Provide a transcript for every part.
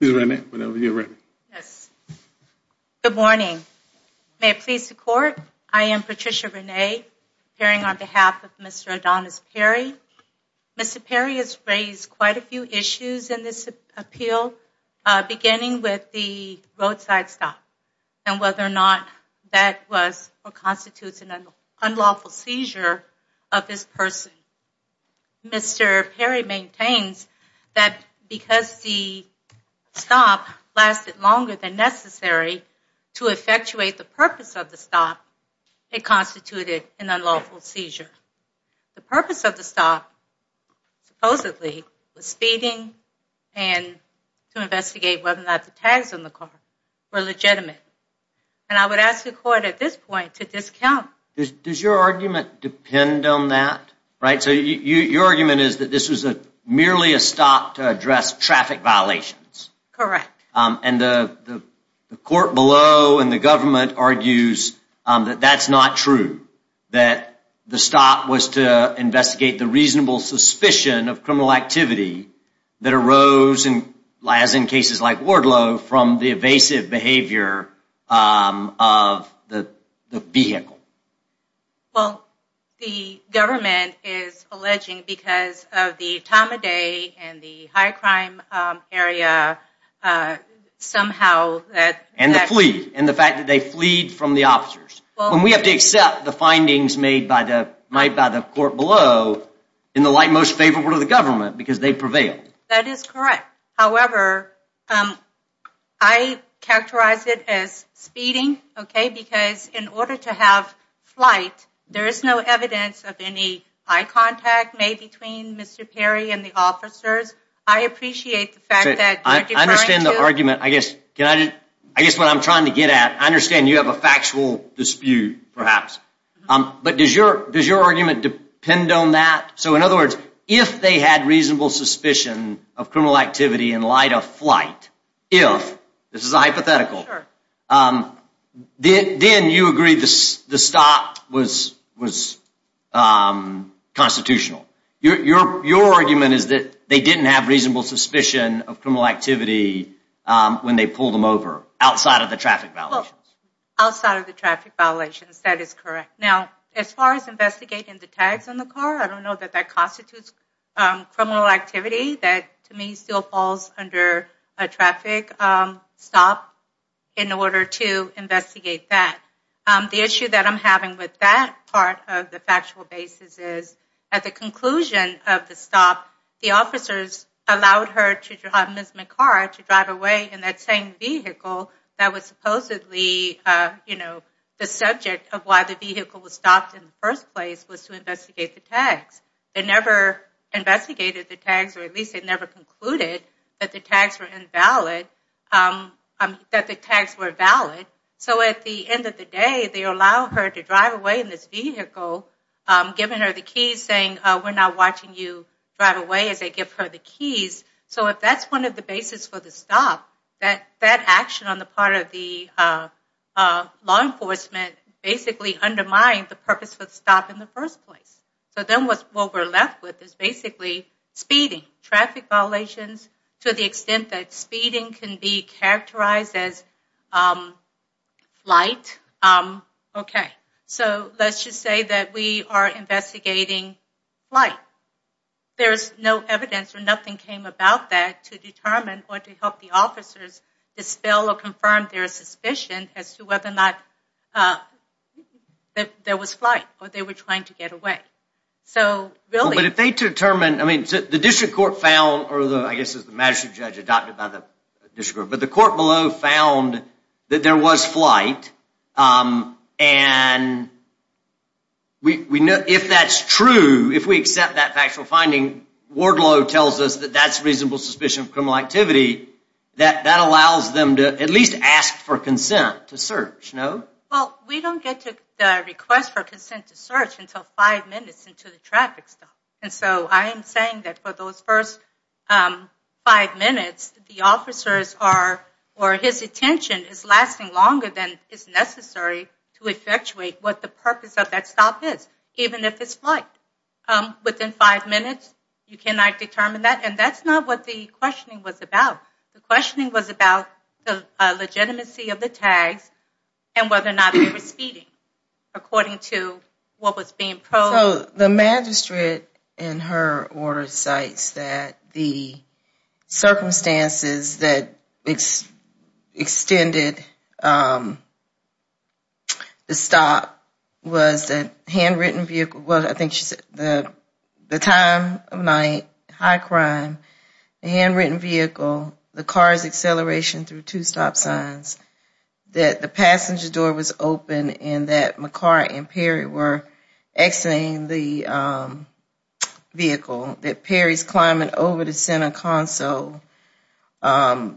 . The good morning. They please support I am Patricia Rene, appearing on behalf of Mr. Adonis Perry. Mr. Perry has raised quite a few issues in this appeal, beginning with the roadside stop and whether or not that was or constitutes an unlawful seizure of this person. Mr. Perry maintains that because the stop lasted longer than necessary to effectuate the purpose of the stop, it constituted an unlawful seizure. The purpose of the stop supposedly was speeding and to investigate whether or not the tags on the car were legitimate. I would ask the court at this point to discount. Does your argument depend on that? Your argument is that this was merely a stop to address traffic violations? Correct. The court below and the government argues that that is not true. The stop was to investigate the reasonable suspicion of criminal activity that arose in cases like Wardlow from the evasive behavior of the vehicle. Well, the government is alleging because of the time of day and the high crime area, somehow that and the plea and the fact that they fleed from the officers when we have to accept the findings made by the court below in the light most favorable to the government, because they prevailed. That is correct. However, I characterize it as speeding, because in order to have flight, there is no evidence of any eye contact made between Mr. Perry and the officers. I appreciate the fact that you're deferring to... I understand the argument. I guess what I'm trying to get at, I understand you have a factual dispute, perhaps. But does your argument depend on that? So in other words, if they had reasonable suspicion of criminal activity in light of flight, if, this is a hypothetical, then you agree the stop was constitutional. Your argument is that they didn't have reasonable suspicion of criminal activity when they pulled them over outside of the traffic violations. Outside of the traffic violations. That is correct. Now, as far as investigating the tags on the car, I don't know that that constitutes criminal activity that, to me, still falls under a traffic stop in order to investigate that. The issue that I'm having with that part of the factual basis is, at the conclusion of the stop, the officers allowed her, Ms. McCarra, to drive away in that same vehicle that was supposedly, you know, the subject of why the vehicle was stopped in the first place was to investigate the tags. They never investigated the tags, or at least they never concluded that the tags were invalid, that the tags were valid. So at the end of the day, they allow her to drive away in this vehicle, giving her the keys saying, we're not watching you drive away, as they give her the keys. So if that's one of the basis for the stop, that action on the part of the law enforcement basically undermined the purpose of the stop in the first place. So then what we're left with is basically speeding, traffic violations, to the extent that speeding can be characterized as flight. So let's just say that we are investigating flight. There's no evidence or nothing came about that to determine or to help the officers dispel or confirm their suspicion as to whether or not there was flight, or they were trying to get away. So really- But if they determine, I mean, the district court found, or I guess it was the magistrate judge adopted by the district court, but the court below found that there was flight, and if that's true, if we accept that factual finding, Wardlow tells us that that's reasonable suspicion of criminal activity, that that allows them to at least ask for consent to search, no? Well, we don't get the request for consent to search until five minutes into the traffic stop. And so I am saying that for those first five minutes, the officers are, or his attention is lasting longer than is necessary to effectuate what the purpose of that stop is, even if it's flight. Within five minutes, you cannot determine that, and that's not what the questioning was about. The questioning was about the legitimacy of the tags and whether or not they were speeding, according to what was being- So the magistrate, in her order, cites that the circumstances that extended the stop was that the time of night, high crime, the handwritten vehicle, the car's acceleration through two lanes, the vehicle, that Perry's climbing over the center console, blue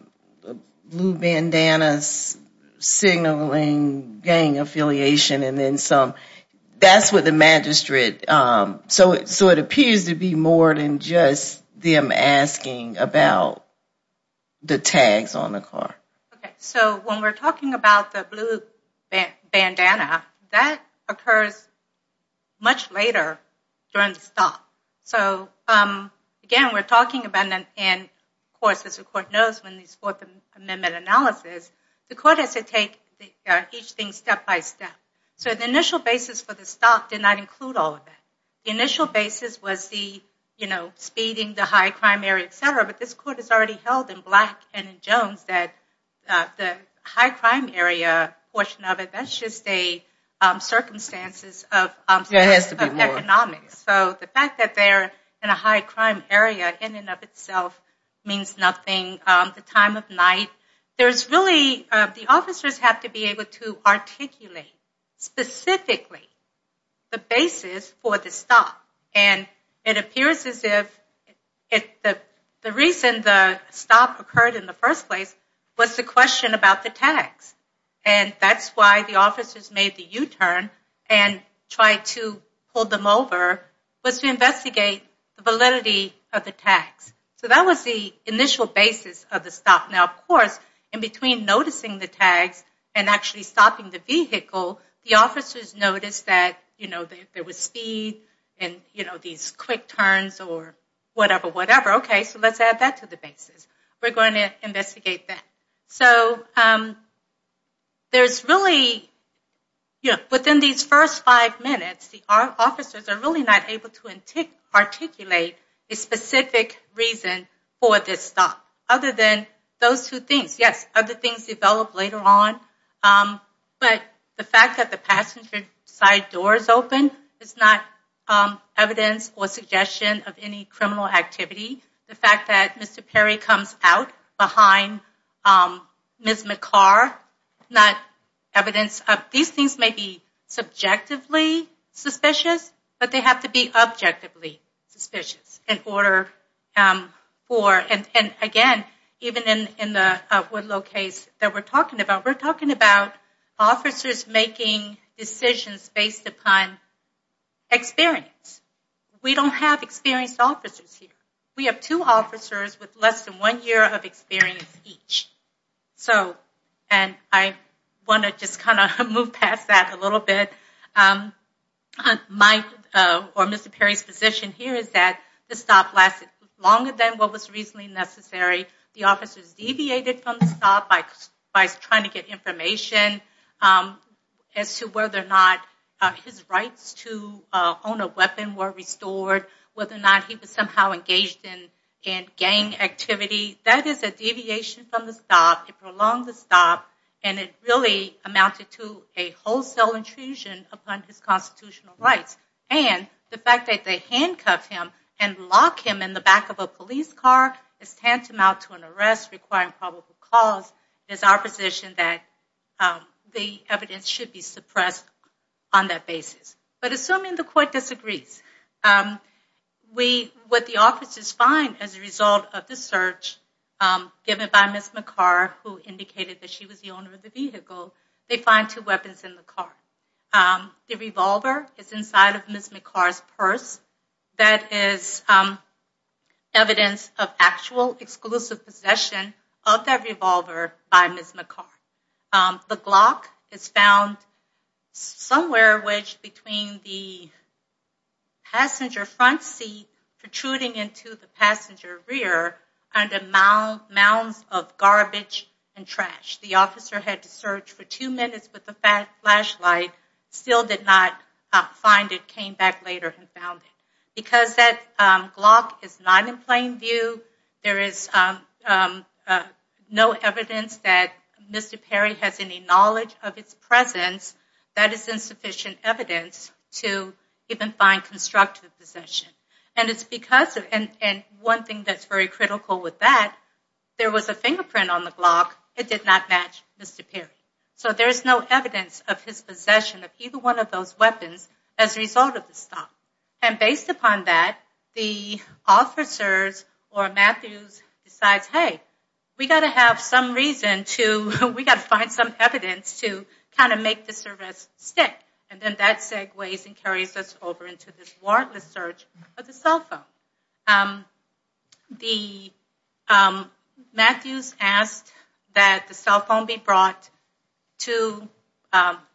bandanas signaling gang affiliation, and then some. That's what the magistrate, so it appears to be more than just them asking about the tags on the car. So when we're talking about the blue bandana, that occurs much later during the stop. So again, we're talking about, and of course, as the court knows, when they support the amendment analysis, the court has to take each thing step by step. So the initial basis for the stop did not include all of that. The initial basis was the speeding, the high crime area, et cetera, but this court has already held in Black and in Jones that the high crime area portion of it, that's just a circumstances of economics. So the fact that they're in a high crime area in and of itself means nothing. The time of night, there's really, the officers have to be able to articulate specifically the basis for the stop. And it appears as if the reason the stop occurred in the first place was the question about the tags. And that's why the officers made the U-turn and tried to pull them over was to investigate the validity of the tags. So that was the initial basis of the stop. Now of course, in between noticing the tags and actually stopping the vehicle, the officers noticed that there was speed and these quick turns or whatever, whatever. Okay, so let's add that to the basis. We're going to investigate that. So there's really, within these first five minutes, the officers are really not able to articulate a specific reason for this stop other than those two things. Yes, other things develop later on. But the fact that the passenger side door is open is not evidence or suggestion of any criminal activity. The fact that Mr. Perry comes out behind Ms. McCarr is not evidence. These things may be subjectively suspicious, but they have to be objectively suspicious in order for... Again, even in the Woodlow case that we're talking about, we're talking about officers making decisions based upon experience. We don't have experienced officers here. We have two officers with less than one year of experience each. And I want to just kind of move past that a little bit. My, or Mr. Perry's, position here is that the stop lasted longer than what was reasonably necessary. The officers deviated from the stop by trying to get information as to whether or not his rights to own a weapon were restored, whether or not he was somehow engaged in gang activity. That is a deviation from the stop. It prolonged the stop, and it really amounted to a wholesale intrusion upon his constitutional rights. And the fact that they handcuff him and lock him in the back of a police car is tantamount to an arrest requiring probable cause. It's our position that the evidence should be suppressed on that basis. But assuming the court disagrees, what the officers find as a result of the search given by Ms. McCarr, who indicated that she was the owner of the vehicle, they find two weapons in the car. The revolver is inside of Ms. McCarr's purse. That is evidence of actual exclusive possession of that revolver by Ms. McCarr. The Glock is found somewhere between the passenger front seat protruding into the passenger rear under mounds of garbage and trash. The officer had to search for two minutes with a flashlight, still did not find it, came back later and found it. Because that Glock is not in plain view, there is no evidence that Mr. Perry has any knowledge of its presence, that is insufficient evidence to even find constructive possession. And it's because of, and one thing that's very critical with that, there was a fingerprint on the Glock, it did not match Mr. Perry. So there's no evidence of his possession of either one of those weapons as a result of the stop. And based upon that, the officers or Matthews decides, hey, we got to have some reason to, we got to find some evidence to kind of make this arrest stick. And then that segues and carries us over into this warrantless search of the cell phone. The, Matthews asked that the cell phone be brought to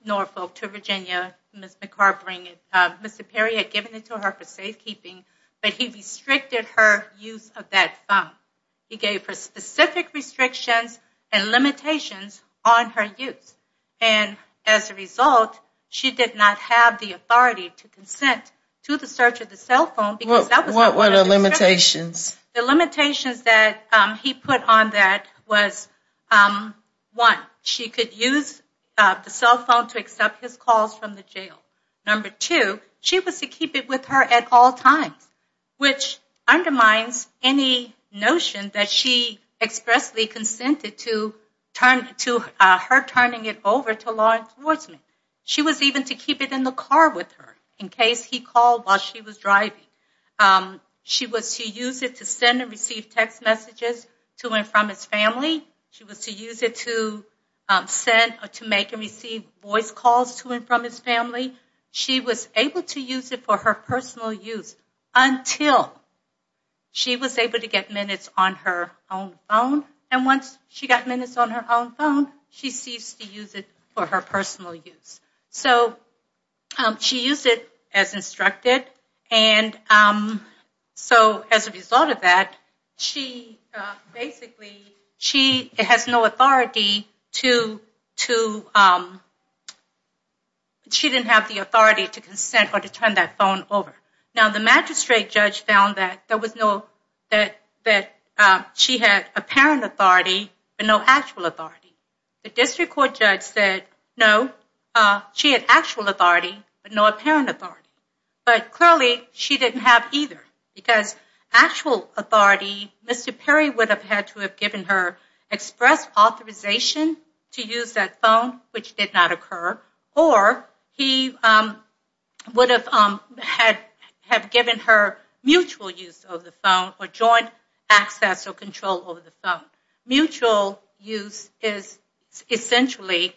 Norfolk, to Virginia. Ms. McCarr bring it, Mr. Perry had given it to her for safekeeping, but he restricted her use of that phone. He gave her specific restrictions and limitations on her use. And as a result, she did not have the authority to consent to the search of the cell phone. What were the limitations? The limitations that he put on that was, one, she could use the cell phone to accept his calls from the jail. Number two, she was to keep it with her at all times, which undermines any notion that she expressly consented to her turning it over to law enforcement. She was even to keep it in the car with her in case he called while she was driving. She was to use it to send and receive text messages to and from his family. She was to use it to send or to make and receive voice calls to and from his family. She was able to use it for her personal use until she was able to get minutes on her own phone. And once she got minutes on her own phone, she ceased to use it for her personal use. So she used it as instructed. And so as a result of that, she basically, she has no authority to, she didn't have the authority to consent or to turn that phone over. Now, the magistrate judge found that there was no, that she had apparent authority but no actual authority. The district court judge said, no, she had actual authority but no apparent authority. But clearly, she didn't have either because actual authority, Mr. Perry would have had to have given her express authorization to use that phone, which did not occur. Or he would have had, have given her mutual use of the phone or joint access or control over the phone. Mutual use is essentially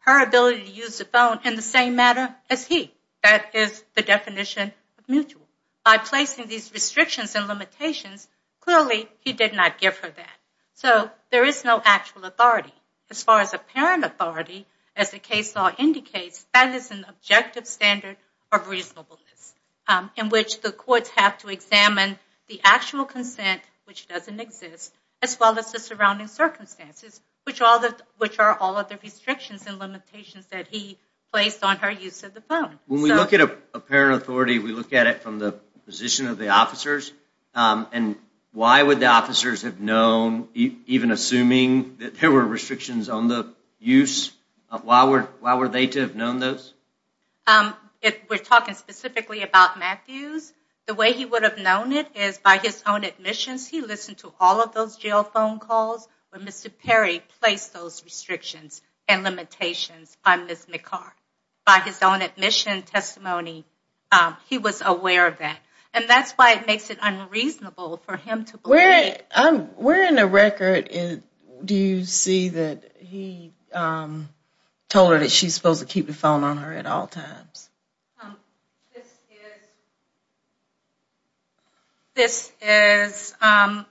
her ability to use the phone in the same manner as he. That is the definition of mutual. By placing these restrictions and limitations, clearly, he did not give her that. So there is no actual authority. As far as apparent authority, as the case law indicates, that is an objective standard of reasonableness in which the courts have to examine the actual consent, which doesn't exist, as well as the surrounding circumstances, which are all of the restrictions and limitations that he placed on her use of the phone. When we look at apparent authority, we look at it from the position of the officers. And why would the officers have known, even assuming that there were restrictions on the use, why were they to have known those? We're talking specifically about Matthews. The way he would have known it is by his own admissions. He listened to all of those jail phone calls where Mr. Perry placed those restrictions and limitations by Ms. McCart. By his own admission testimony, he was aware of that. And that's why it makes it unreasonable for him to believe it. Where in the record do you see that he told her that she's supposed to keep the phone on her at all times? This is, I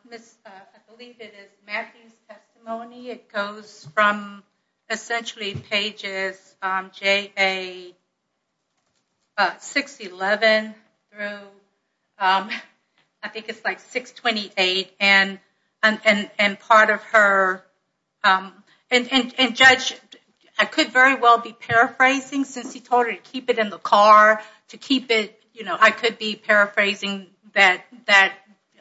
believe it is Matthews' testimony. It goes from essentially pages 611 through, I think it's like 628, and part of her, and Judge, I could very well be paraphrasing since he told her to keep it in the car, to keep it, you know, I could be paraphrasing that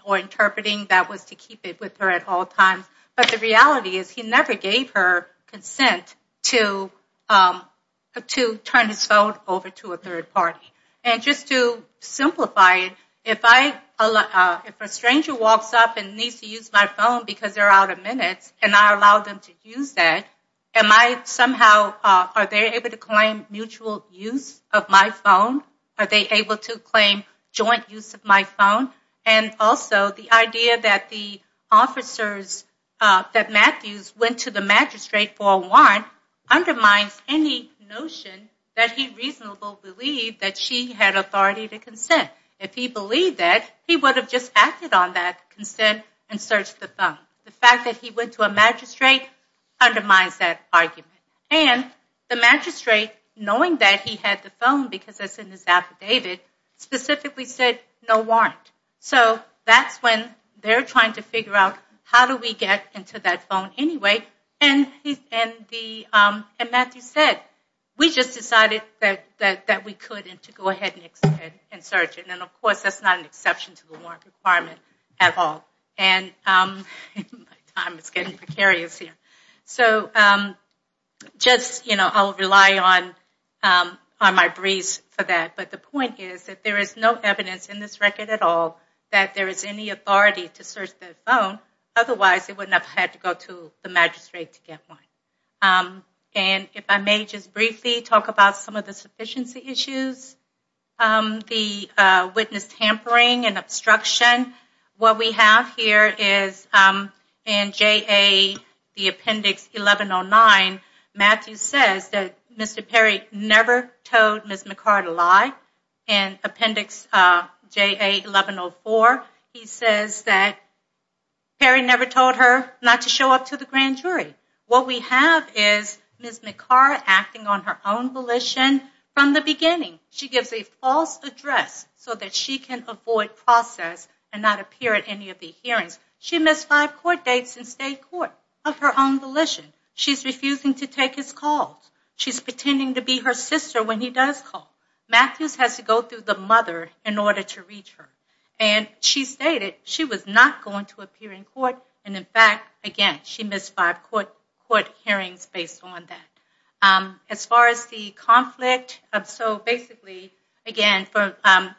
or interpreting that was to keep it with her at all times. But the reality is he never gave her consent to turn his phone over to a third party. And just to simplify it, if a stranger walks up and needs to use my phone because they're out of minutes and I allow them to use that, am I somehow, are they able to claim mutual use of my phone? Are they able to claim joint use of my phone? And also the idea that the officers, that Matthews went to the magistrate for a warrant undermines any notion that he reasonably believed that she had authority to consent. If he believed that, he would have just acted on that consent and searched the phone. The fact that he went to a magistrate undermines that argument. And the magistrate, knowing that he had the phone because it's in his affidavit, specifically we said no warrant. So that's when they're trying to figure out how do we get into that phone anyway. And Matthew said, we just decided that we could and to go ahead and search it. And of course that's not an exception to the warrant requirement at all. And my time is getting precarious here. So just, you know, I'll rely on my breeze for that. But the point is that there is no evidence in this record at all that there is any authority to search the phone, otherwise they wouldn't have had to go to the magistrate to get one. And if I may just briefly talk about some of the sufficiency issues, the witness tampering and obstruction. What we have here is in JA, the appendix 1109, Matthews says that Mr. Perry never told Ms. McCarra to lie. And appendix JA 1104, he says that Perry never told her not to show up to the grand jury. What we have is Ms. McCarra acting on her own volition from the beginning. She gives a false address so that she can avoid process and not appear at any of the hearings. She missed five court dates in state court of her own volition. She's refusing to take his calls. She's pretending to be her sister when he does call. Matthews has to go through the mother in order to reach her. And she stated she was not going to appear in court, and in fact, again, she missed five court hearings based on that. As far as the conflict, so basically, again,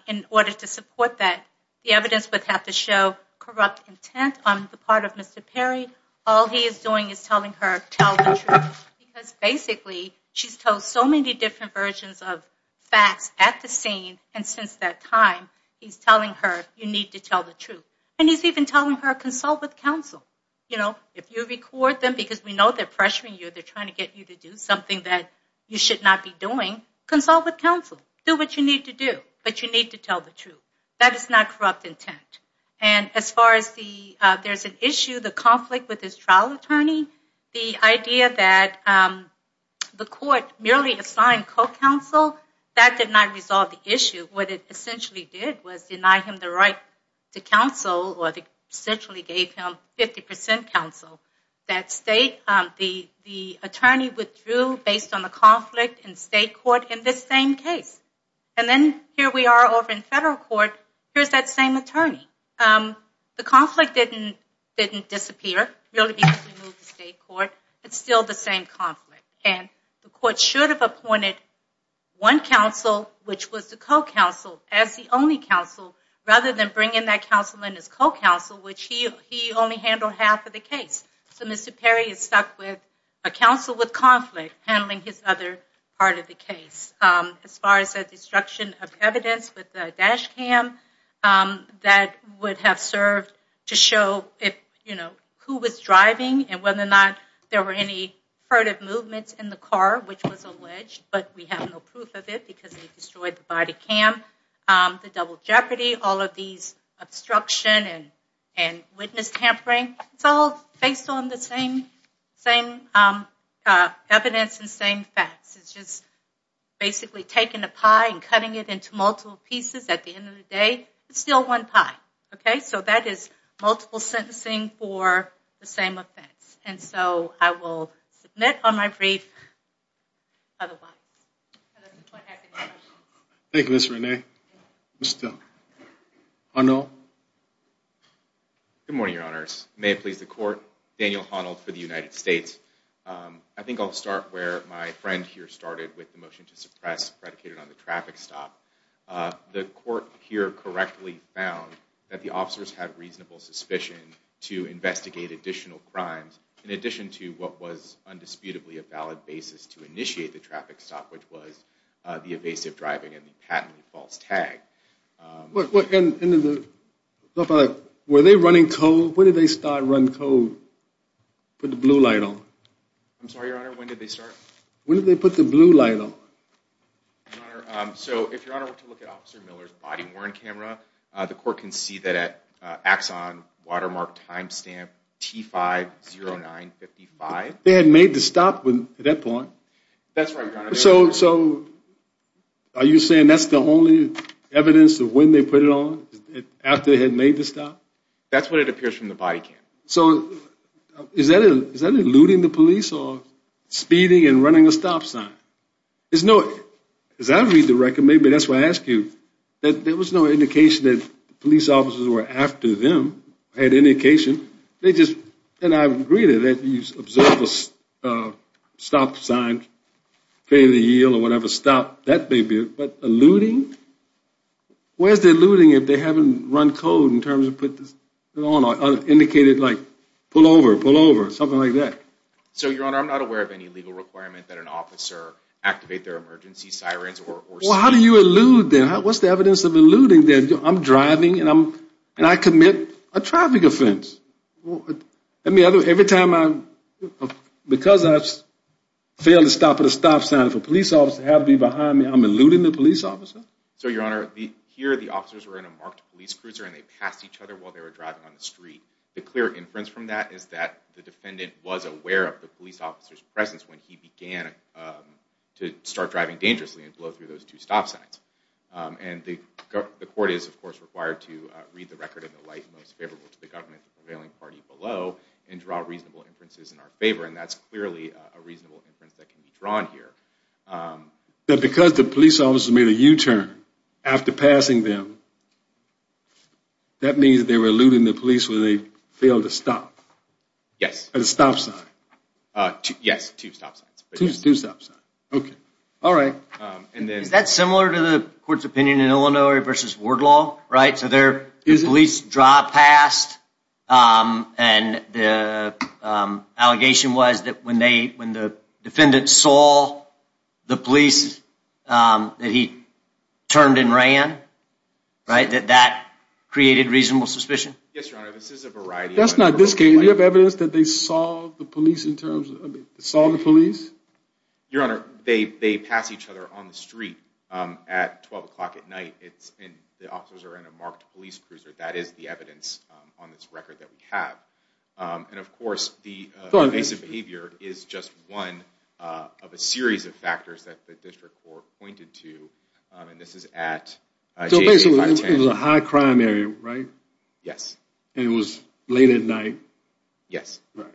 in order to support that, the evidence would have to show corrupt intent on the part of Mr. Perry. All he is doing is telling her, tell the truth. Because basically, she's told so many different versions of facts at the scene. And since that time, he's telling her, you need to tell the truth. And he's even telling her, consult with counsel. You know, if you record them, because we know they're pressuring you. They're trying to get you to do something that you should not be doing. Consult with counsel. Do what you need to do. But you need to tell the truth. That is not corrupt intent. And as far as there's an issue, the conflict with his trial attorney, the idea that the court merely assigned co-counsel, that did not resolve the issue. What it essentially did was deny him the right to counsel, or essentially gave him 50% counsel. That state, the attorney withdrew based on the conflict in state court in this same case. And then, here we are over in federal court. Here's that same attorney. The conflict didn't disappear, really because we moved to state court. It's still the same conflict. And the court should have appointed one counsel, which was the co-counsel, as the only counsel, rather than bring in that counsel in as co-counsel, which he only handled half of the case. So Mr. Perry is stuck with a counsel with conflict handling his other part of the case. As far as the destruction of evidence with the dash cam, that would have served to show who was driving and whether or not there were any furtive movements in the car, which was alleged, but we have no proof of it because they destroyed the body cam. The double jeopardy, all of these obstruction and witness tampering, it's all based on the same evidence and same facts. It's just basically taking a pie and cutting it into multiple pieces. At the end of the day, it's still one pie. OK? So that is multiple sentencing for the same offense. And so I will submit on my brief. Thank you, Ms. Renee. Mr. Honnold? Good morning, Your Honors. May it please the court. Daniel Honnold for the United States. I think I'll start where my friend here started with the motion to suppress predicated on the traffic stop. The court here correctly found that the officers had reasonable suspicion to investigate additional crimes in addition to what was undisputably a valid basis to initiate the traffic stop, which was the evasive driving and the patently false tag. Were they running code? When did they start running code? Put the blue light on. I'm sorry, Your Honor. When did they start? When did they put the blue light on? So if Your Honor were to look at Officer Miller's body worn camera, the court can see that at axon watermark timestamp T50955. They had made the stop at that point. That's right, Your Honor. So are you saying that's the only evidence of when they put it on after they had made the stop? That's what it appears from the body cam. So is that eluding the police or speeding and running a stop sign? There's no, as I read the record, maybe that's why I ask you, that there was no indication that police officers were after them. I had indication. They just, and I agree to that, you observe a stop sign, failure to yield or whatever, stop. That may be it. But eluding? Where's the eluding if they haven't run code in terms of put this on or indicated pull over, pull over, something like that? So Your Honor, I'm not aware of any legal requirement that an officer activate their emergency sirens or... Well, how do you elude then? What's the evidence of eluding then? I'm driving and I commit a traffic offense. Every time I, because I failed to stop at a stop sign, if a police officer had to be behind me, I'm eluding the police officer? So Your Honor, here the officers were in a marked police cruiser and they passed each other while they were driving on the street. The clear inference from that is that the defendant was aware of the police officer's presence when he began to start driving dangerously and blow through those two stop signs. And the court is, of course, required to read the record in the light most favorable to the government, the prevailing party below and draw reasonable inferences in our favor. And that's clearly a reasonable inference that can be drawn here. Because the police officer made a U-turn after passing them, that means they were eluding the police when they failed to stop. Yes. At a stop sign. Yes, two stop signs. Two stop signs. Okay. All right. And then... Is that similar to the court's opinion in Illinois versus Wardlaw, right? So their police drive passed and the allegation was that when the defendant saw the police that he turned and ran, right, that that created reasonable suspicion? Yes, Your Honor. This is a variety of... That's not this case. Do you have evidence that they saw the police in terms of... Saw the police? Your Honor, they pass each other on the street at 12 o'clock at night. It's in... The officers are in a marked police cruiser. That is the evidence on this record that we have. And of course, the evasive behavior is just one of a series of factors that the district court pointed to. And this is at... So basically, it was a high crime area, right? Yes. And it was late at night? Yes. Right.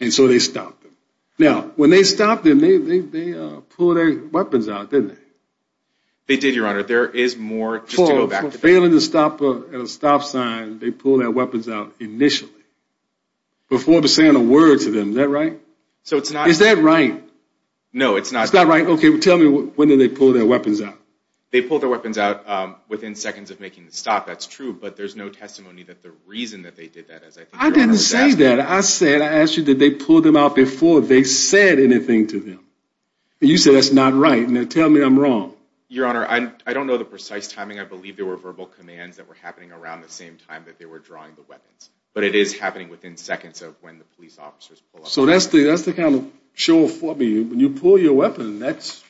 And so they stopped them. Now, when they stopped them, they pulled their weapons out, didn't they? They did, Your Honor. There is more just to go back to... For failing to stop at a stop sign, they pulled their weapons out initially before saying a word to them. Is that right? So it's not... Is that right? No, it's not. It's not right? Okay. Tell me when did they pull their weapons out? They pulled their weapons out within seconds of making the stop. That's true. But there's no testimony that the reason that they did that is, I think... I didn't say that. I said... I asked you, did they pull them out before they said anything to them? And you said that's not right. Now, tell me I'm wrong. Your Honor, I don't know the precise timing. I believe there were verbal commands that were happening around the same time that they were drawing the weapons. But it is happening within seconds of when the police officers pull up. So that's the kind of show for me. When you pull your weapon, that's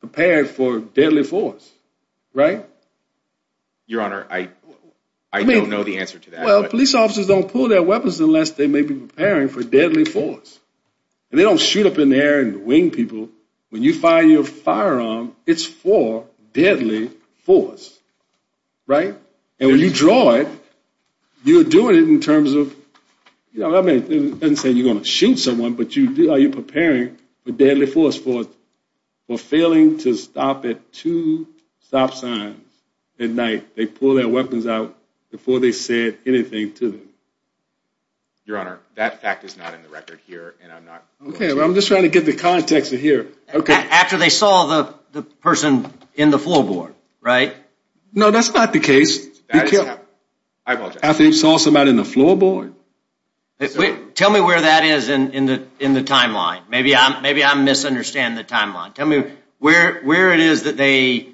prepared for deadly force, right? Your Honor, I don't know the answer to that. Well, police officers don't pull their weapons unless they may be preparing for deadly force. And they don't shoot up in the air and wing people. When you fire your firearm, it's for deadly force, right? And when you draw it, you're doing it in terms of... You know, I mean, it doesn't say you're going to shoot someone, but you're preparing for deadly force for failing to stop at two stop signs at night. They pull their weapons out before they said anything to them. Your Honor, that fact is not in the record here. And I'm not... Okay, well, I'm just trying to get the context of here. Okay. After they saw the person in the floorboard, right? No, that's not the case. After they saw somebody in the floorboard? Tell me where that is in the timeline. Maybe I'm misunderstanding the timeline. Tell me where it is that they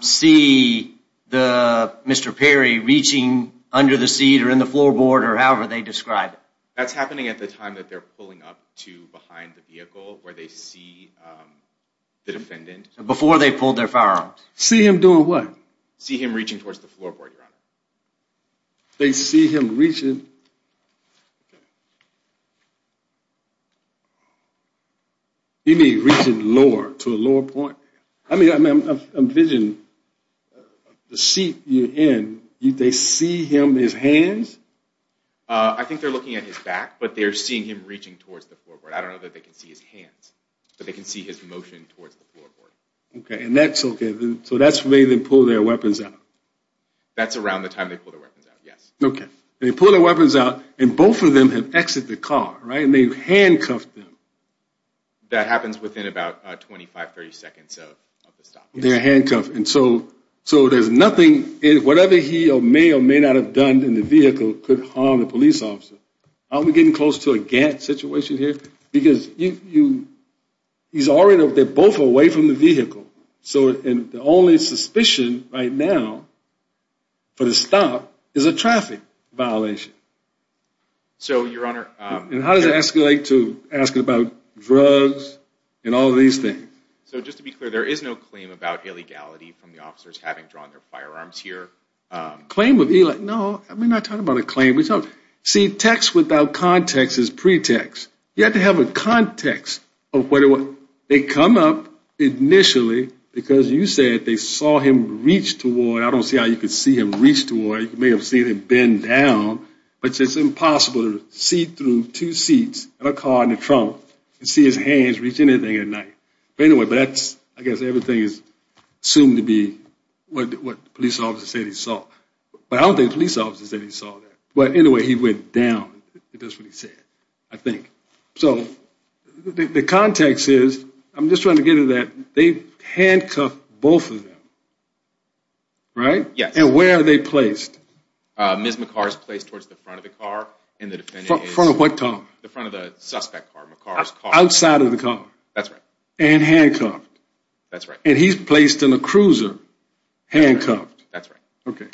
see Mr. Perry reaching under the seat or in the floorboard or however they describe it. That's happening at the time that they're pulling up to behind the vehicle where they see the defendant. Before they pulled their firearms. See him doing what? See him reaching towards the floorboard, Your Honor. They see him reaching... You mean reaching lower to a lower point? I mean, envision the seat you're in, they see him, his hands? I think they're looking at his back, but they're seeing him reaching towards the floorboard. I don't know that they can see his hands, but they can see his motion towards the floorboard. Okay. And that's okay. So that's the way they pull their weapons out. That's around the time they pull their weapons out. Yes. Okay. They pull their weapons out and both of them have exited the car, right? They've handcuffed them. That happens within about 25, 30 seconds of the stop. They're handcuffed. And so there's nothing... Whatever he may or may not have done in the vehicle could harm the police officer. Are we getting close to a Gantt situation here? Because he's already... They're both away from the vehicle. So the only suspicion right now for the stop is a traffic violation. So, Your Honor... And how does it escalate to asking about drugs and all these things? So just to be clear, there is no claim about illegality from the officers having drawn their firearms here. Claim of... No, I'm not talking about a claim. See, text without context is pretext. You have to have a context of what... They come up initially because you said they saw him reach toward... I don't see how you could see him reach toward. You may have seen him bend down, but it's impossible to see through two seats in a car in the trunk and see his hands reach anything at night. But anyway, that's... I guess everything is assumed to be what the police officer said he saw. But I don't think the police officer said he saw that. But anyway, he went down. That's what he said, I think. So the context is... I'm just trying to get to that. They've handcuffed both of them, right? Yes. And where are they placed? Ms. McCar's placed towards the front of the car. And the defendant is... Front of what car? The front of the suspect car, McCar's car. Outside of the car? That's right. And handcuffed? That's right. And he's placed in a cruiser, handcuffed? That's right. Okay.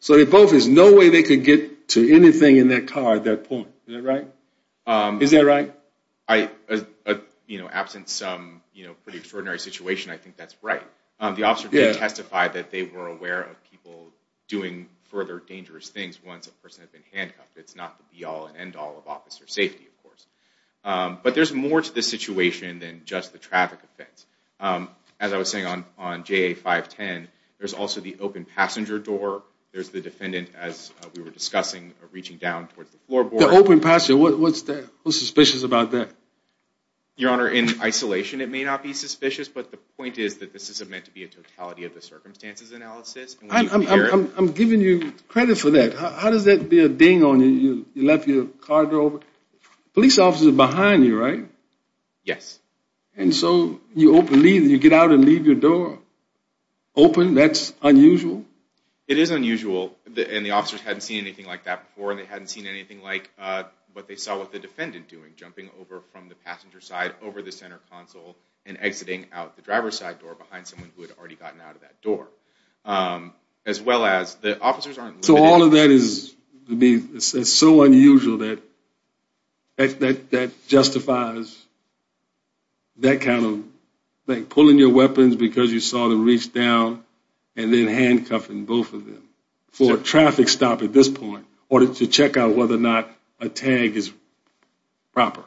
So they both... There's no way they could get to anything in that car at that point, is that right? Is that right? Absent some pretty extraordinary situation, I think that's right. The officer did testify that they were aware of people doing further dangerous things once a person had been handcuffed. It's not the be-all and end-all of officer safety, of course. But there's more to this situation than just the traffic offense. As I was saying on JA-510, there's also the open passenger door. There's the defendant, as we were discussing, reaching down towards the floorboard. The open passenger, what's suspicious about that? Your Honor, in isolation, it may not be suspicious. But the point is that this isn't meant to be a totality of the circumstances analysis. I'm giving you credit for that. How does that be a ding on you? You left your car door open. Police officers are behind you, right? Yes. And so you get out and leave your door open? That's unusual? It is unusual. And the officers hadn't seen anything like that before. And they hadn't seen anything like what they saw with the defendant doing. Jumping over from the passenger side over the center console and exiting out the driver's side door behind someone who had already gotten out of that door. As well as the officers aren't... So all of that is so unusual that justifies that kind of thing. Pulling your weapons because you saw them reach down and then handcuffing both of them for a traffic stop at this point in order to check out whether or not a tag is proper.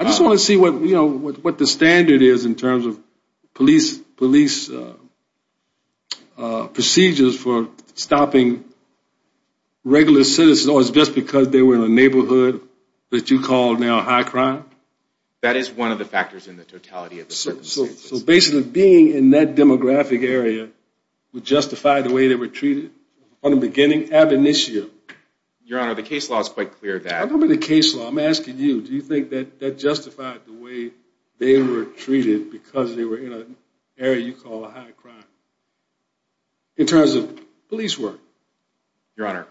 I just want to see what the standard is in terms of police procedures for stopping regular citizens or it's just because they were in a neighborhood that you call now high crime. That is one of the factors in the totality of the circumstances. So basically being in that demographic area would justify the way they were treated on the beginning ab initio. Your Honor, the case law is quite clear that... I'm asking you. Do you think that that justified the way they were treated because they were in an area you call a high crime in terms of police work? Your Honor,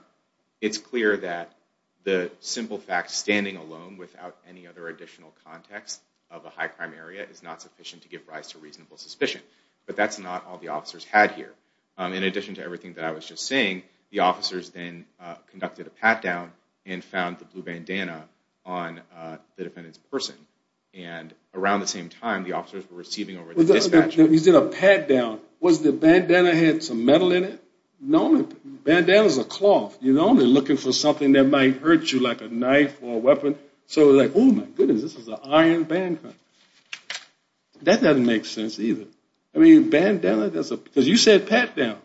it's clear that the simple fact standing alone without any other additional context of a high crime area is not sufficient to give rise to reasonable suspicion. But that's not all the officers had here. In addition to everything that I was just saying, the officers then conducted a pat down and found the blue bandana on the defendant's person. And around the same time, the officers were receiving over the dispatcher. You did a pat down. Was the bandana had some metal in it? No, bandana is a cloth. You're only looking for something that might hurt you like a knife or a weapon. So like, oh my goodness, this is an iron band. That doesn't make sense either. I mean, bandana, that's because you said pat down.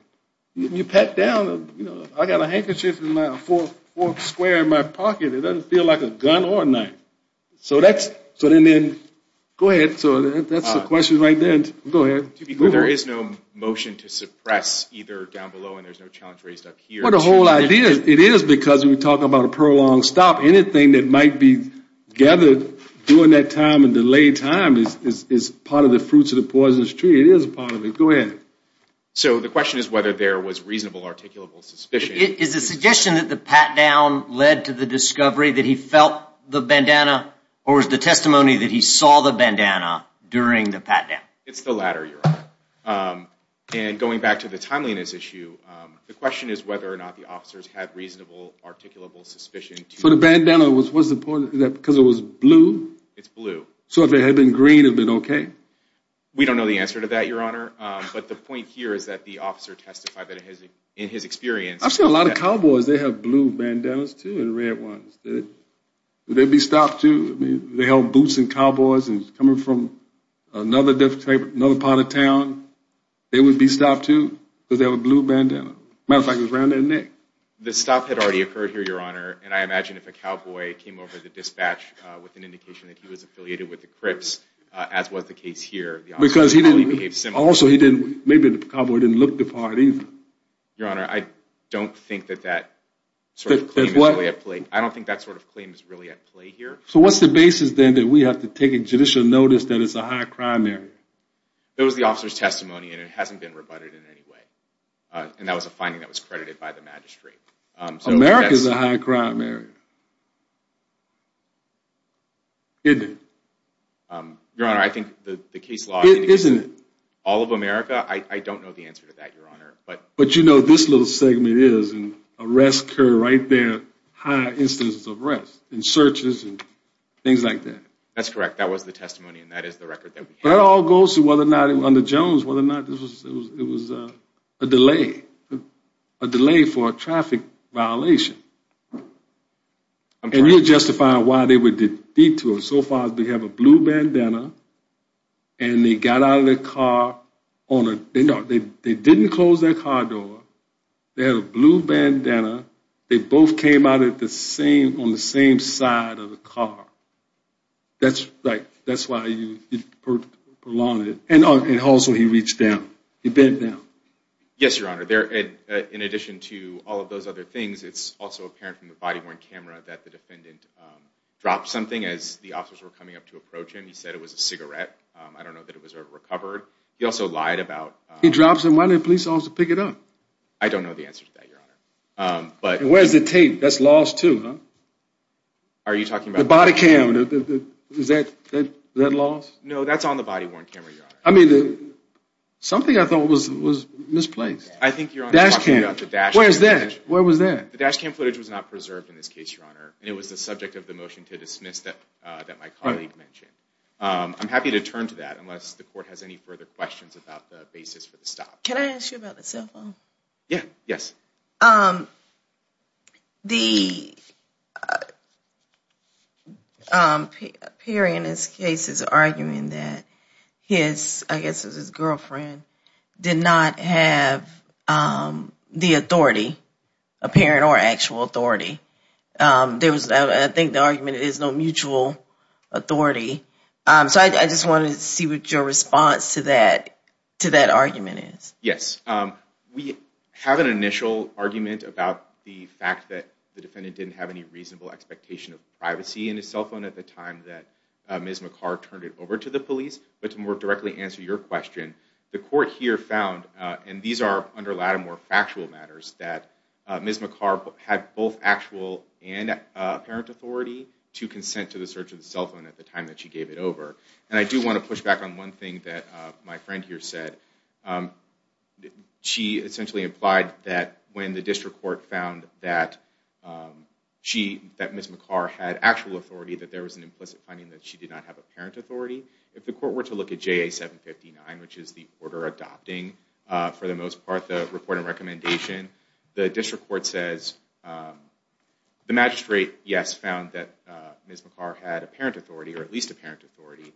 You pat down, you know, I got a handkerchief and a fork square in my pocket. It doesn't feel like a gun or a knife. So that's, so then then, go ahead. So that's the question right there. Go ahead. There is no motion to suppress either down below and there's no challenge raised up here. The whole idea, it is because we're talking about a prolonged stop. Anything that might be gathered during that time and delayed time is part of the fruits of the poisonous tree. It is part of it. Go ahead. So the question is whether there was reasonable articulable suspicion. Is the suggestion that the pat down led to the discovery that he felt the bandana or is the testimony that he saw the bandana during the pat down? It's the latter, Your Honor. And going back to the timeliness issue, the question is whether or not the officers had reasonable articulable suspicion. For the bandana, what's the point of that? Because it was blue? It's blue. So if it had been green, it would have been okay? We don't know the answer to that, Your Honor. But the point here is that the officer testified that in his experience. I've seen a lot of cowboys. They have blue bandanas too and red ones. Would they be stopped too? They held boots and cowboys and coming from another part of town, they would be stopped too because they have a blue bandana. Matter of fact, it was around their neck. The stop had already occurred here, Your Honor. And I imagine if a cowboy came over the dispatch with an indication that he was affiliated with the Crips, as was the case here, the officer would probably behave similarly. Also, maybe the cowboy didn't look the part either. Your Honor, I don't think that that sort of claim is really at play. I don't think that sort of claim is really at play here. So what's the basis then that we have to take judicial notice that it's a high crime area? It was the officer's testimony and it hasn't been rebutted in any way. And that was a finding that was credited by the magistrate. America is a high crime area. Isn't it? Your Honor, I think the case law is in all of America. I don't know the answer to that, Your Honor. But you know, this little segment is an arrest right there. High instances of arrest and searches and things like that. That's correct. That was the testimony. And that is the record that all goes to whether or not it was under Jones, whether or not it was a delay, a delay for a traffic violation. And you justify why they were detoured so far as we have a blue bandana and they got out of the car on a, they didn't close that car door. They had a blue bandana. They both came out at the same, on the same side of the car. That's like, that's why you prolong it. And also he reached down. He bent down. Yes, Your Honor. There, in addition to all of those other things, it's also a high crime area. It's also apparent from the body-worn camera that the defendant dropped something as the officers were coming up to approach him. He said it was a cigarette. I don't know that it was ever recovered. He also lied about- He drops it. Why didn't the police officer pick it up? I don't know the answer to that, Your Honor. Where's the tape? That's lost too, huh? Are you talking about- The body cam, is that lost? No, that's on the body-worn camera, Your Honor. I mean, something I thought was misplaced. I think Your Honor is talking about the dash cam footage. Where's that? Where was that? The dash cam footage was not preserved in this case, Your Honor. And it was the subject of the motion to dismiss that my colleague mentioned. I'm happy to turn to that unless the court has any further questions about the basis for the stop. Can I ask you about the cell phone? Yeah, yes. The, Perry in this case is arguing that his, I guess it was his girlfriend, did not have the authority, apparent or actual authority. There was, I think the argument is no mutual authority. So I just wanted to see what your response to that argument is. Yes, we have an initial argument about the fact that the defendant didn't have any reasonable expectation of privacy in his cell phone at the time that Ms. McCarr turned it over to the police. But to more directly answer your question, the court here found, and these are under Lattimore factual matters, that Ms. McCarr had both actual and apparent authority to consent to the search of the cell phone at the time that she gave it over. And I do want to push back on one thing that my friend here said. She essentially implied that when the district court found that Ms. McCarr had actual authority, that there was an implicit finding that she did not have apparent authority. If the court were to look at JA 759, which is the order adopting, for the most part, the reporting recommendation, the district court says, the magistrate, yes, found that Ms. McCarr had apparent authority, or at least apparent authority.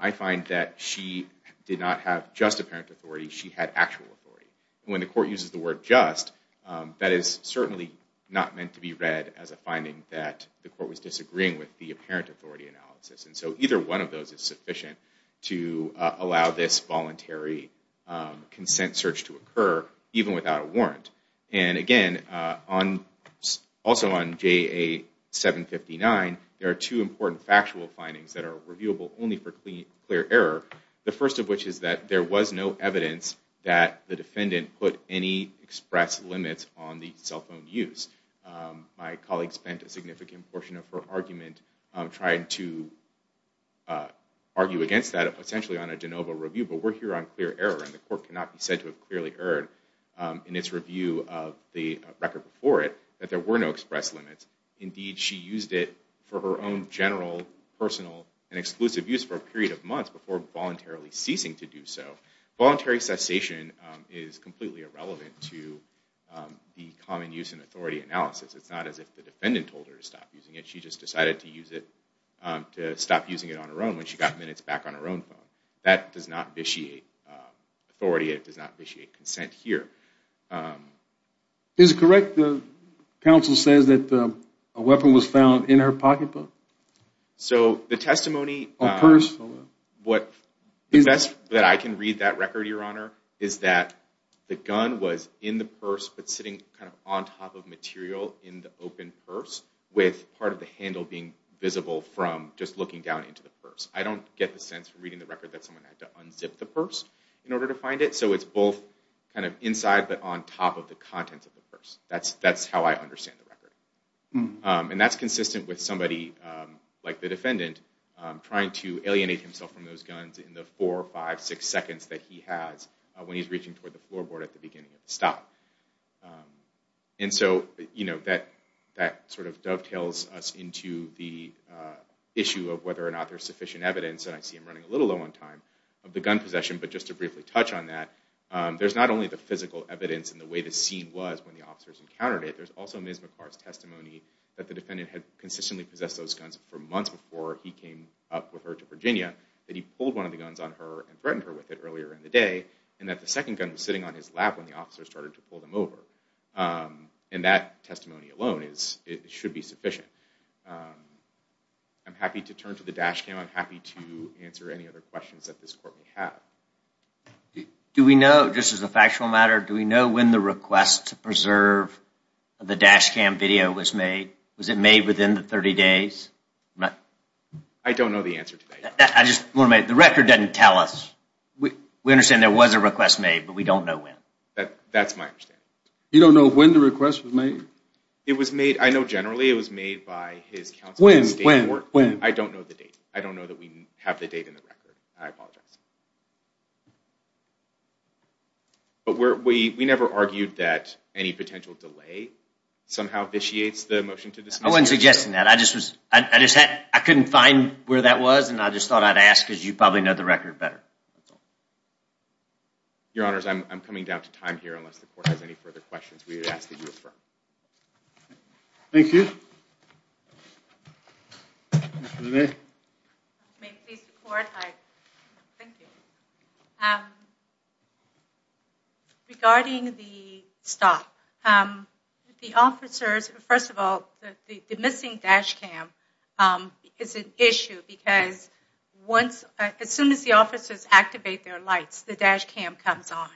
I find that she did not have just apparent authority, she had actual authority. When the court uses the word just, that is certainly not meant to be read as a finding that the court was disagreeing with the apparent authority analysis. And so either one of those is sufficient to allow this voluntary consent search to occur, even without a warrant. And again, also on JA 759, there are two important factual findings that are reviewable only for clear error. The first of which is that there was no evidence that the defendant put any express limits on the cell phone use. My colleague spent a significant portion of her argument trying to argue against that, essentially on a de novo review. But we're here on clear error, and the court cannot be said to have clearly erred in its review of the record before it, that there were no express limits. Indeed, she used it for her own general, personal, and exclusive use for a period of months before voluntarily ceasing to do so. Voluntary cessation is completely irrelevant to the common use and authority analysis. It's not as if the defendant told her to stop using it. She just decided to use it, to stop using it on her own when she got minutes back on her own phone. That does not vitiate authority. It does not vitiate consent here. Is it correct the counsel says that a weapon was found in her pocketbook? So the testimony, the best that I can read that record, Your Honor, is that the gun was in the purse, but sitting kind of on top of material in the open purse, with part of the handle being visible from just looking down into the purse. I don't get the sense from reading the record that someone had to unzip the purse in order to find it. So it's both kind of inside, but on top of the contents of the purse. That's how I understand the record. And that's consistent with somebody like the defendant trying to alienate himself from those in the four, five, six seconds that he has when he's reaching toward the floorboard at the beginning of the stop. And so, you know, that sort of dovetails us into the issue of whether or not there's sufficient evidence, and I see him running a little low on time, of the gun possession. But just to briefly touch on that, there's not only the physical evidence and the way the scene was when the officers encountered it, there's also Ms. McCart's testimony that the defendant had consistently possessed those guns for months before he came up with her to Virginia, that he pulled one of the guns on her and threatened her with it earlier in the day, and that the second gun was sitting on his lap when the officer started to pull them over. And that testimony alone is, it should be sufficient. I'm happy to turn to the dash cam. I'm happy to answer any other questions that this court may have. Do we know, just as a factual matter, do we know when the request to preserve the dash cam video was made? Was it made within the 30 days? I don't know the answer to that. I just want to make, the record doesn't tell us. We understand there was a request made, but we don't know when. That's my understanding. You don't know when the request was made? It was made, I know generally it was made by his counsel. When? I don't know the date. I don't know that we have the date in the record. I apologize. But we never argued that any potential delay somehow vitiates the motion to dismiss. I wasn't I couldn't find where that was, and I just thought I'd ask because you probably know the record better. Your honors, I'm coming down to time here unless the court has any further questions. Thank you. Mr. LeMay. May it please the court, thank you. Regarding the stop, the officers, first of all, the missing dash cam is an issue because once, as soon as the officers activate their lights, the dash cam comes on.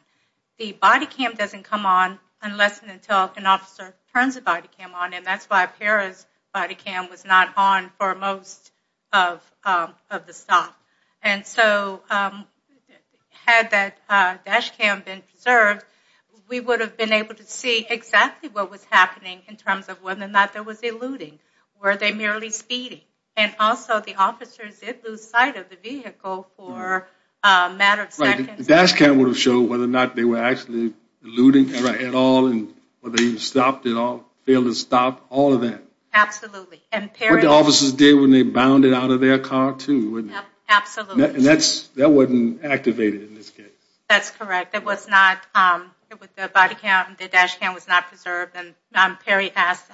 The body cam doesn't come on unless and until an officer turns the body cam on, and that's why Pera's body cam was not on for most of the stop. And so had that dash cam been preserved, we would have been able to see exactly what was happening in terms of whether or not there was eluding. Were they merely speeding? And also the officers did lose sight of the vehicle for a matter of seconds. The dash cam would have showed whether or not they were actually eluding at all, and whether they stopped at all, failed to stop, all of that. Absolutely. And what the officers did when they bounded out of their car too. Absolutely. And that wasn't activated in this case. That's correct. It was not. The dash cam was not preserved, and Perry asked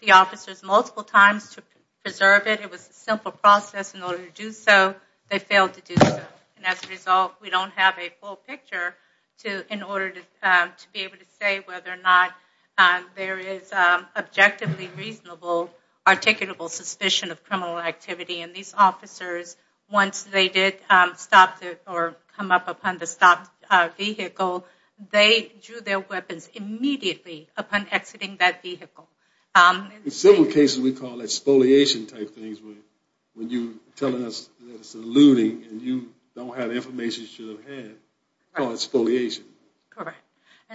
the officers multiple times to preserve it. It was a simple process in order to do so. They failed to do so. And as a result, we don't have a full picture in order to be able to say whether or not there is objectively reasonable, articulable suspicion of criminal activity. And these officers, once they did stop or come up upon the stopped vehicle, they drew their weapons immediately upon exiting that vehicle. In several cases we call that spoliation type things, when you're telling us that it's eluding and you don't have the information you should have had, call it spoliation. Correct.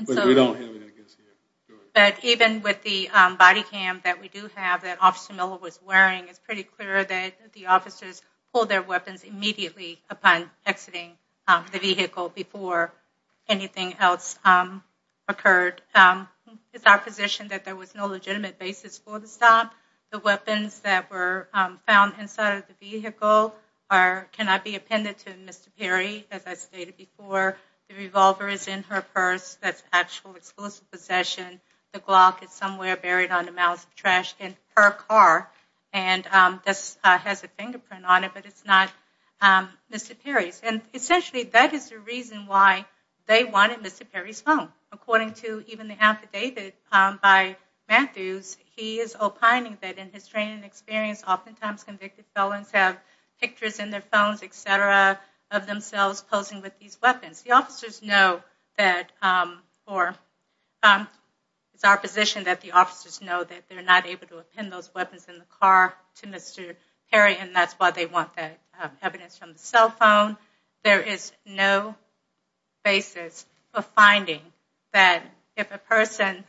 But we don't have it I guess here. But even with the body cam that we do have that Officer Miller was wearing, it's pretty clear that the officers pulled their weapons immediately upon exiting the vehicle before anything else occurred. It's our position that there was no legitimate basis for the stop. The weapons that were found inside of the vehicle cannot be appended to Mr. Perry, as I stated before. The revolver is in her purse. That's actual, exclusive possession. The Glock is somewhere buried under mouths of trash in her car. And this has a fingerprint on it, but it's not Mr. Perry's. And essentially that is the reason why they wanted Mr. Perry's phone. According to even the affidavit by Matthews, he is opining that in his training and experience, oftentimes convicted felons have pictures in their phones, etc. of themselves posing with these weapons. The officers know that for, it's our position that the officers know that they're not able to append those weapons in the car to Mr. Perry, and that's why they want evidence from the cell phone. There is no basis of finding that if a person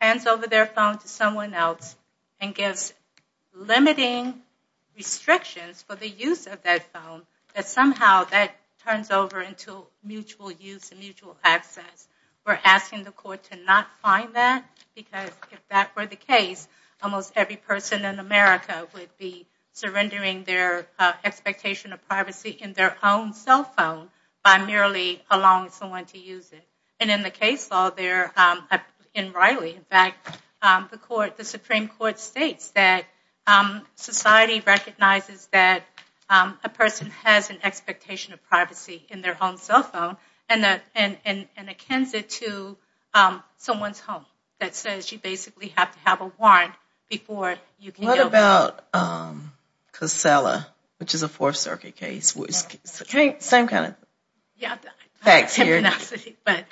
hands over their phone to someone else and gives limiting restrictions for the use of that phone, that somehow that turns over into mutual use and mutual access. We're asking the court to not find that because if that were the case, almost every person in America would be surrendering their expectation of privacy in their own cell phone by merely allowing someone to use it. And in the case law in Riley, in fact, the Supreme Court states that society recognizes that a person has an expectation of privacy in their own cell phone and that and and and it can sit to someone's home. That says you basically have to have a warrant before you can go. What about Casella, which is a Fourth Circuit case, which is the same kind of facts here. But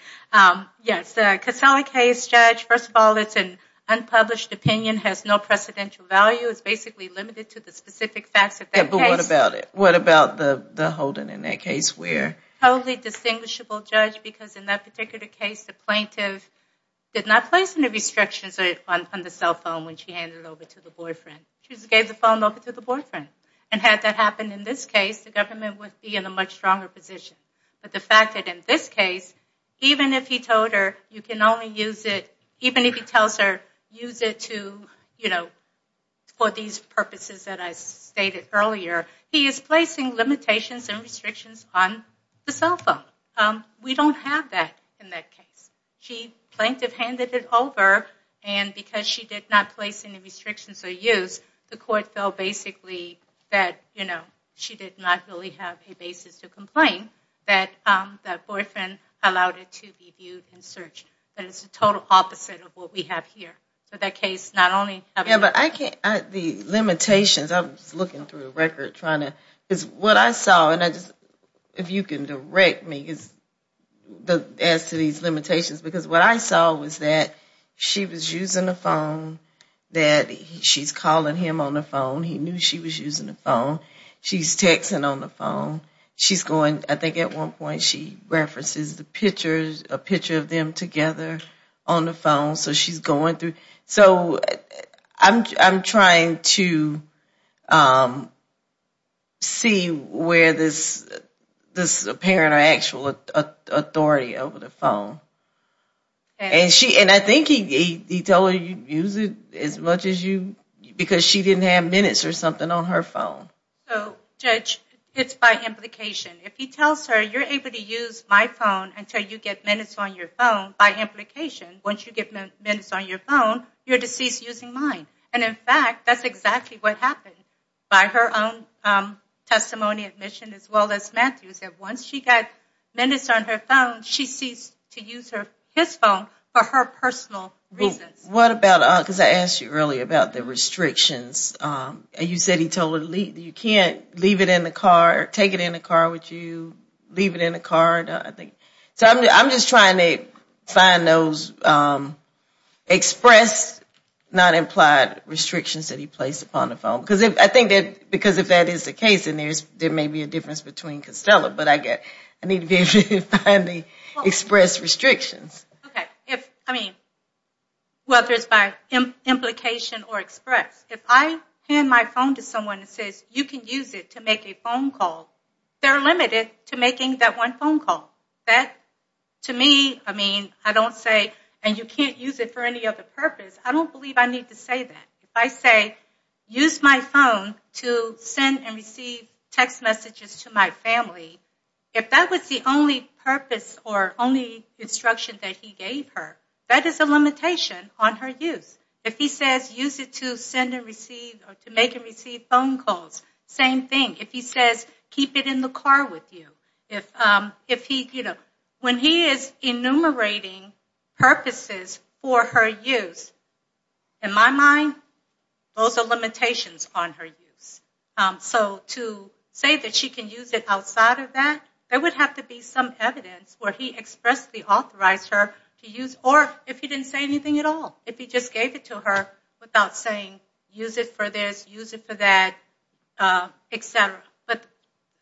yes, the Casella case, Judge, first of all, it's an unpublished opinion, has no precedential value, is basically limited to the specific facts But what about it? What about the Holden in that case where? Totally distinguishable, Judge, because in that particular case, the plaintiff did not place any restrictions on the cell phone when she handed over to the boyfriend. She just gave the phone over to the boyfriend. And had that happened in this case, the government would be in a much stronger position. But the fact that in this case, even if he told her you can only use it, even if he tells her use it to, you know, for these purposes that I stated earlier, he is placing limitations and restrictions on the cell phone. We don't have that in that case. She, plaintiff, handed it over and because she did not place any restrictions or use, the court felt basically that, you know, she did not really have a basis to complain that that boyfriend allowed it to be viewed and searched. But it's total opposite of what we have here. So that case not only. Yeah, but I can't, the limitations, I'm just looking through the record trying to, because what I saw, and I just, if you can direct me as to these limitations, because what I saw was that she was using the phone, that she's calling him on the phone. He knew she was using the phone. She's texting on the phone. She's going, I think at one point she references the pictures, a picture of them together on the phone. So she's going through. So I'm trying to see where this apparent or actual authority over the phone. And she, and I think he told her you use it as much as you, because she didn't have minutes or something on her phone. So judge, it's by implication. If he tells her you're able to use my phone until you get minutes on your phone, by implication, once you get minutes on your phone, you're deceased using mine. And in fact, that's exactly what happened by her own testimony admission, as well as Matthew said, once she got minutes on her phone, she ceased to use her, his phone for her personal reasons. What about, because I asked you earlier about the restrictions and you said he told her you can't leave it in the car, take it in the car with you, leave it in the car. So I'm just trying to find those expressed, not implied restrictions that he placed upon the phone. Because if, I think that, because if that is the case, then there's, there may be a difference between Costello, but I get, I need to be able to find the expressed restrictions. Okay. If, I mean, whether it's by implication or express, if I hand my phone to someone that says you can use it to make a phone call, they're limited to making that one phone call. That to me, I mean, I don't say, and you can't use it for any other purpose. I don't believe I need to say that. If I say use my phone to send and receive text messages to my family, if that was the only purpose or only instruction that he gave her, that is a limitation on her use. If he says use it to send and receive or to make and receive phone calls, same thing. If he says keep it in the car with you, if he, you know, when he is enumerating purposes for her use, in my mind, those are limitations on her use. So to say that she can use it outside of that, there would have to be some evidence where he expressly authorized her to use, or if he didn't say anything at all, if he just gave it to her without saying use it for this, use it for that, et cetera. But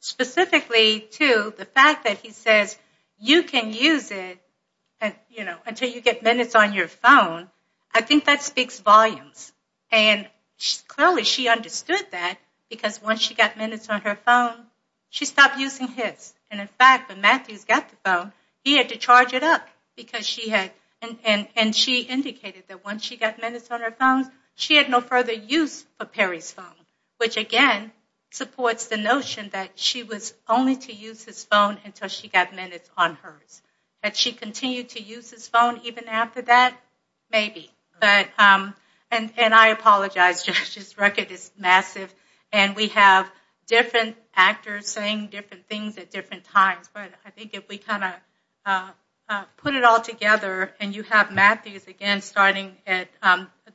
specifically too, the fact that he says you can use it and, you know, until you get minutes on your phone, I think that speaks volumes. And clearly she understood that because once she got minutes on her phone, she stopped using his. And in fact, when Matthews got the phone, he had to charge it up because she had, and she indicated that once she got minutes on her phone, she had no further use for Perry's phone, which again supports the notion that she was only to use his phone until she got minutes on hers. Had she continued to use his phone even after that? Maybe. But, and I apologize, Judge, this record is massive and we have different actors saying different things at different times, but I think if we kind of put it all together and you have Matthews again, starting at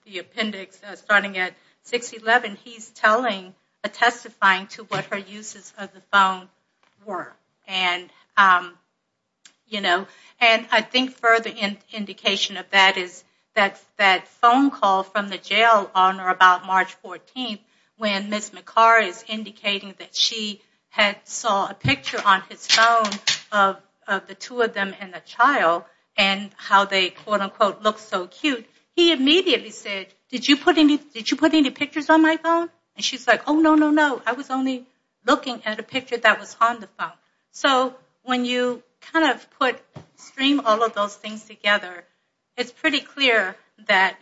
the appendix, starting at 6-11, he's telling, testifying to what her uses of the phone were. And, you know, and I think further indication of that is that that phone call from the jail on or about March 14th, when Ms. McCarr is indicating that she had saw a picture on his phone of the two of them and the child and how they, quote, unquote, look so cute. He immediately said, did you put any, did you put any pictures on my phone? And she's like, oh, no, no, no. I was only looking at a picture that was on the phone. So when you kind of put, stream all of those things together, it's pretty clear that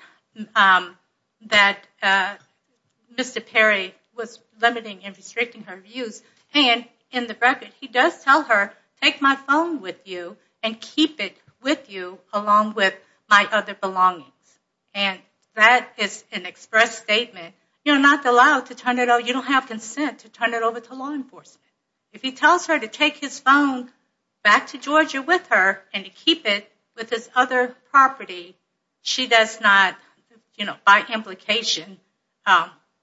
Mr. Perry was limiting and restricting her use. And in the record, he does tell her, take my phone with you and keep it with you along with my other belongings. And that is an express statement. You're not allowed to turn it over, you don't have consent to turn it over to law enforcement. If he tells her to take his phone back to Georgia with her and to keep it with his other property, she does not, you know, by implication,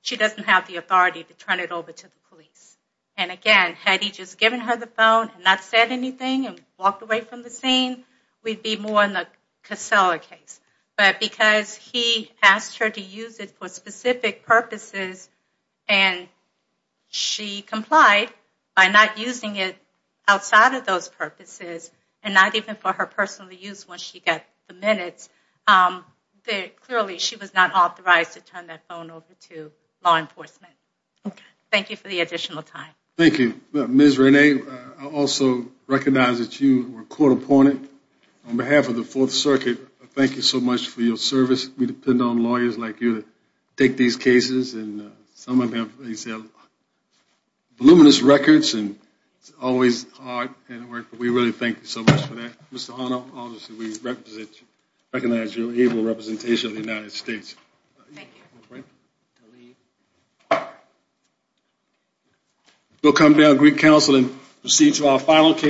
she doesn't have the authority to turn it over to the police. And again, had he just given her the phone and not said anything and walked away from the scene, we'd be more in the Casella case. But because he asked her to use it for specific purposes and she complied by not using it outside of those purposes and not even for her personal use when she got the minutes, clearly she was not authorized to turn that phone over to law enforcement. Thank you for the additional time. Thank you. Ms. Rene, I also recognize that you were a court opponent. On behalf of the Fourth Circuit, thank you so much for your service. We depend on lawyers like you to take these cases and some of them have voluminous records and it's always hard, but we really thank you so much for that. Mr. Hono, honestly, we recognize your able representation of the United States. We'll come down Greek Council and proceed to our final case.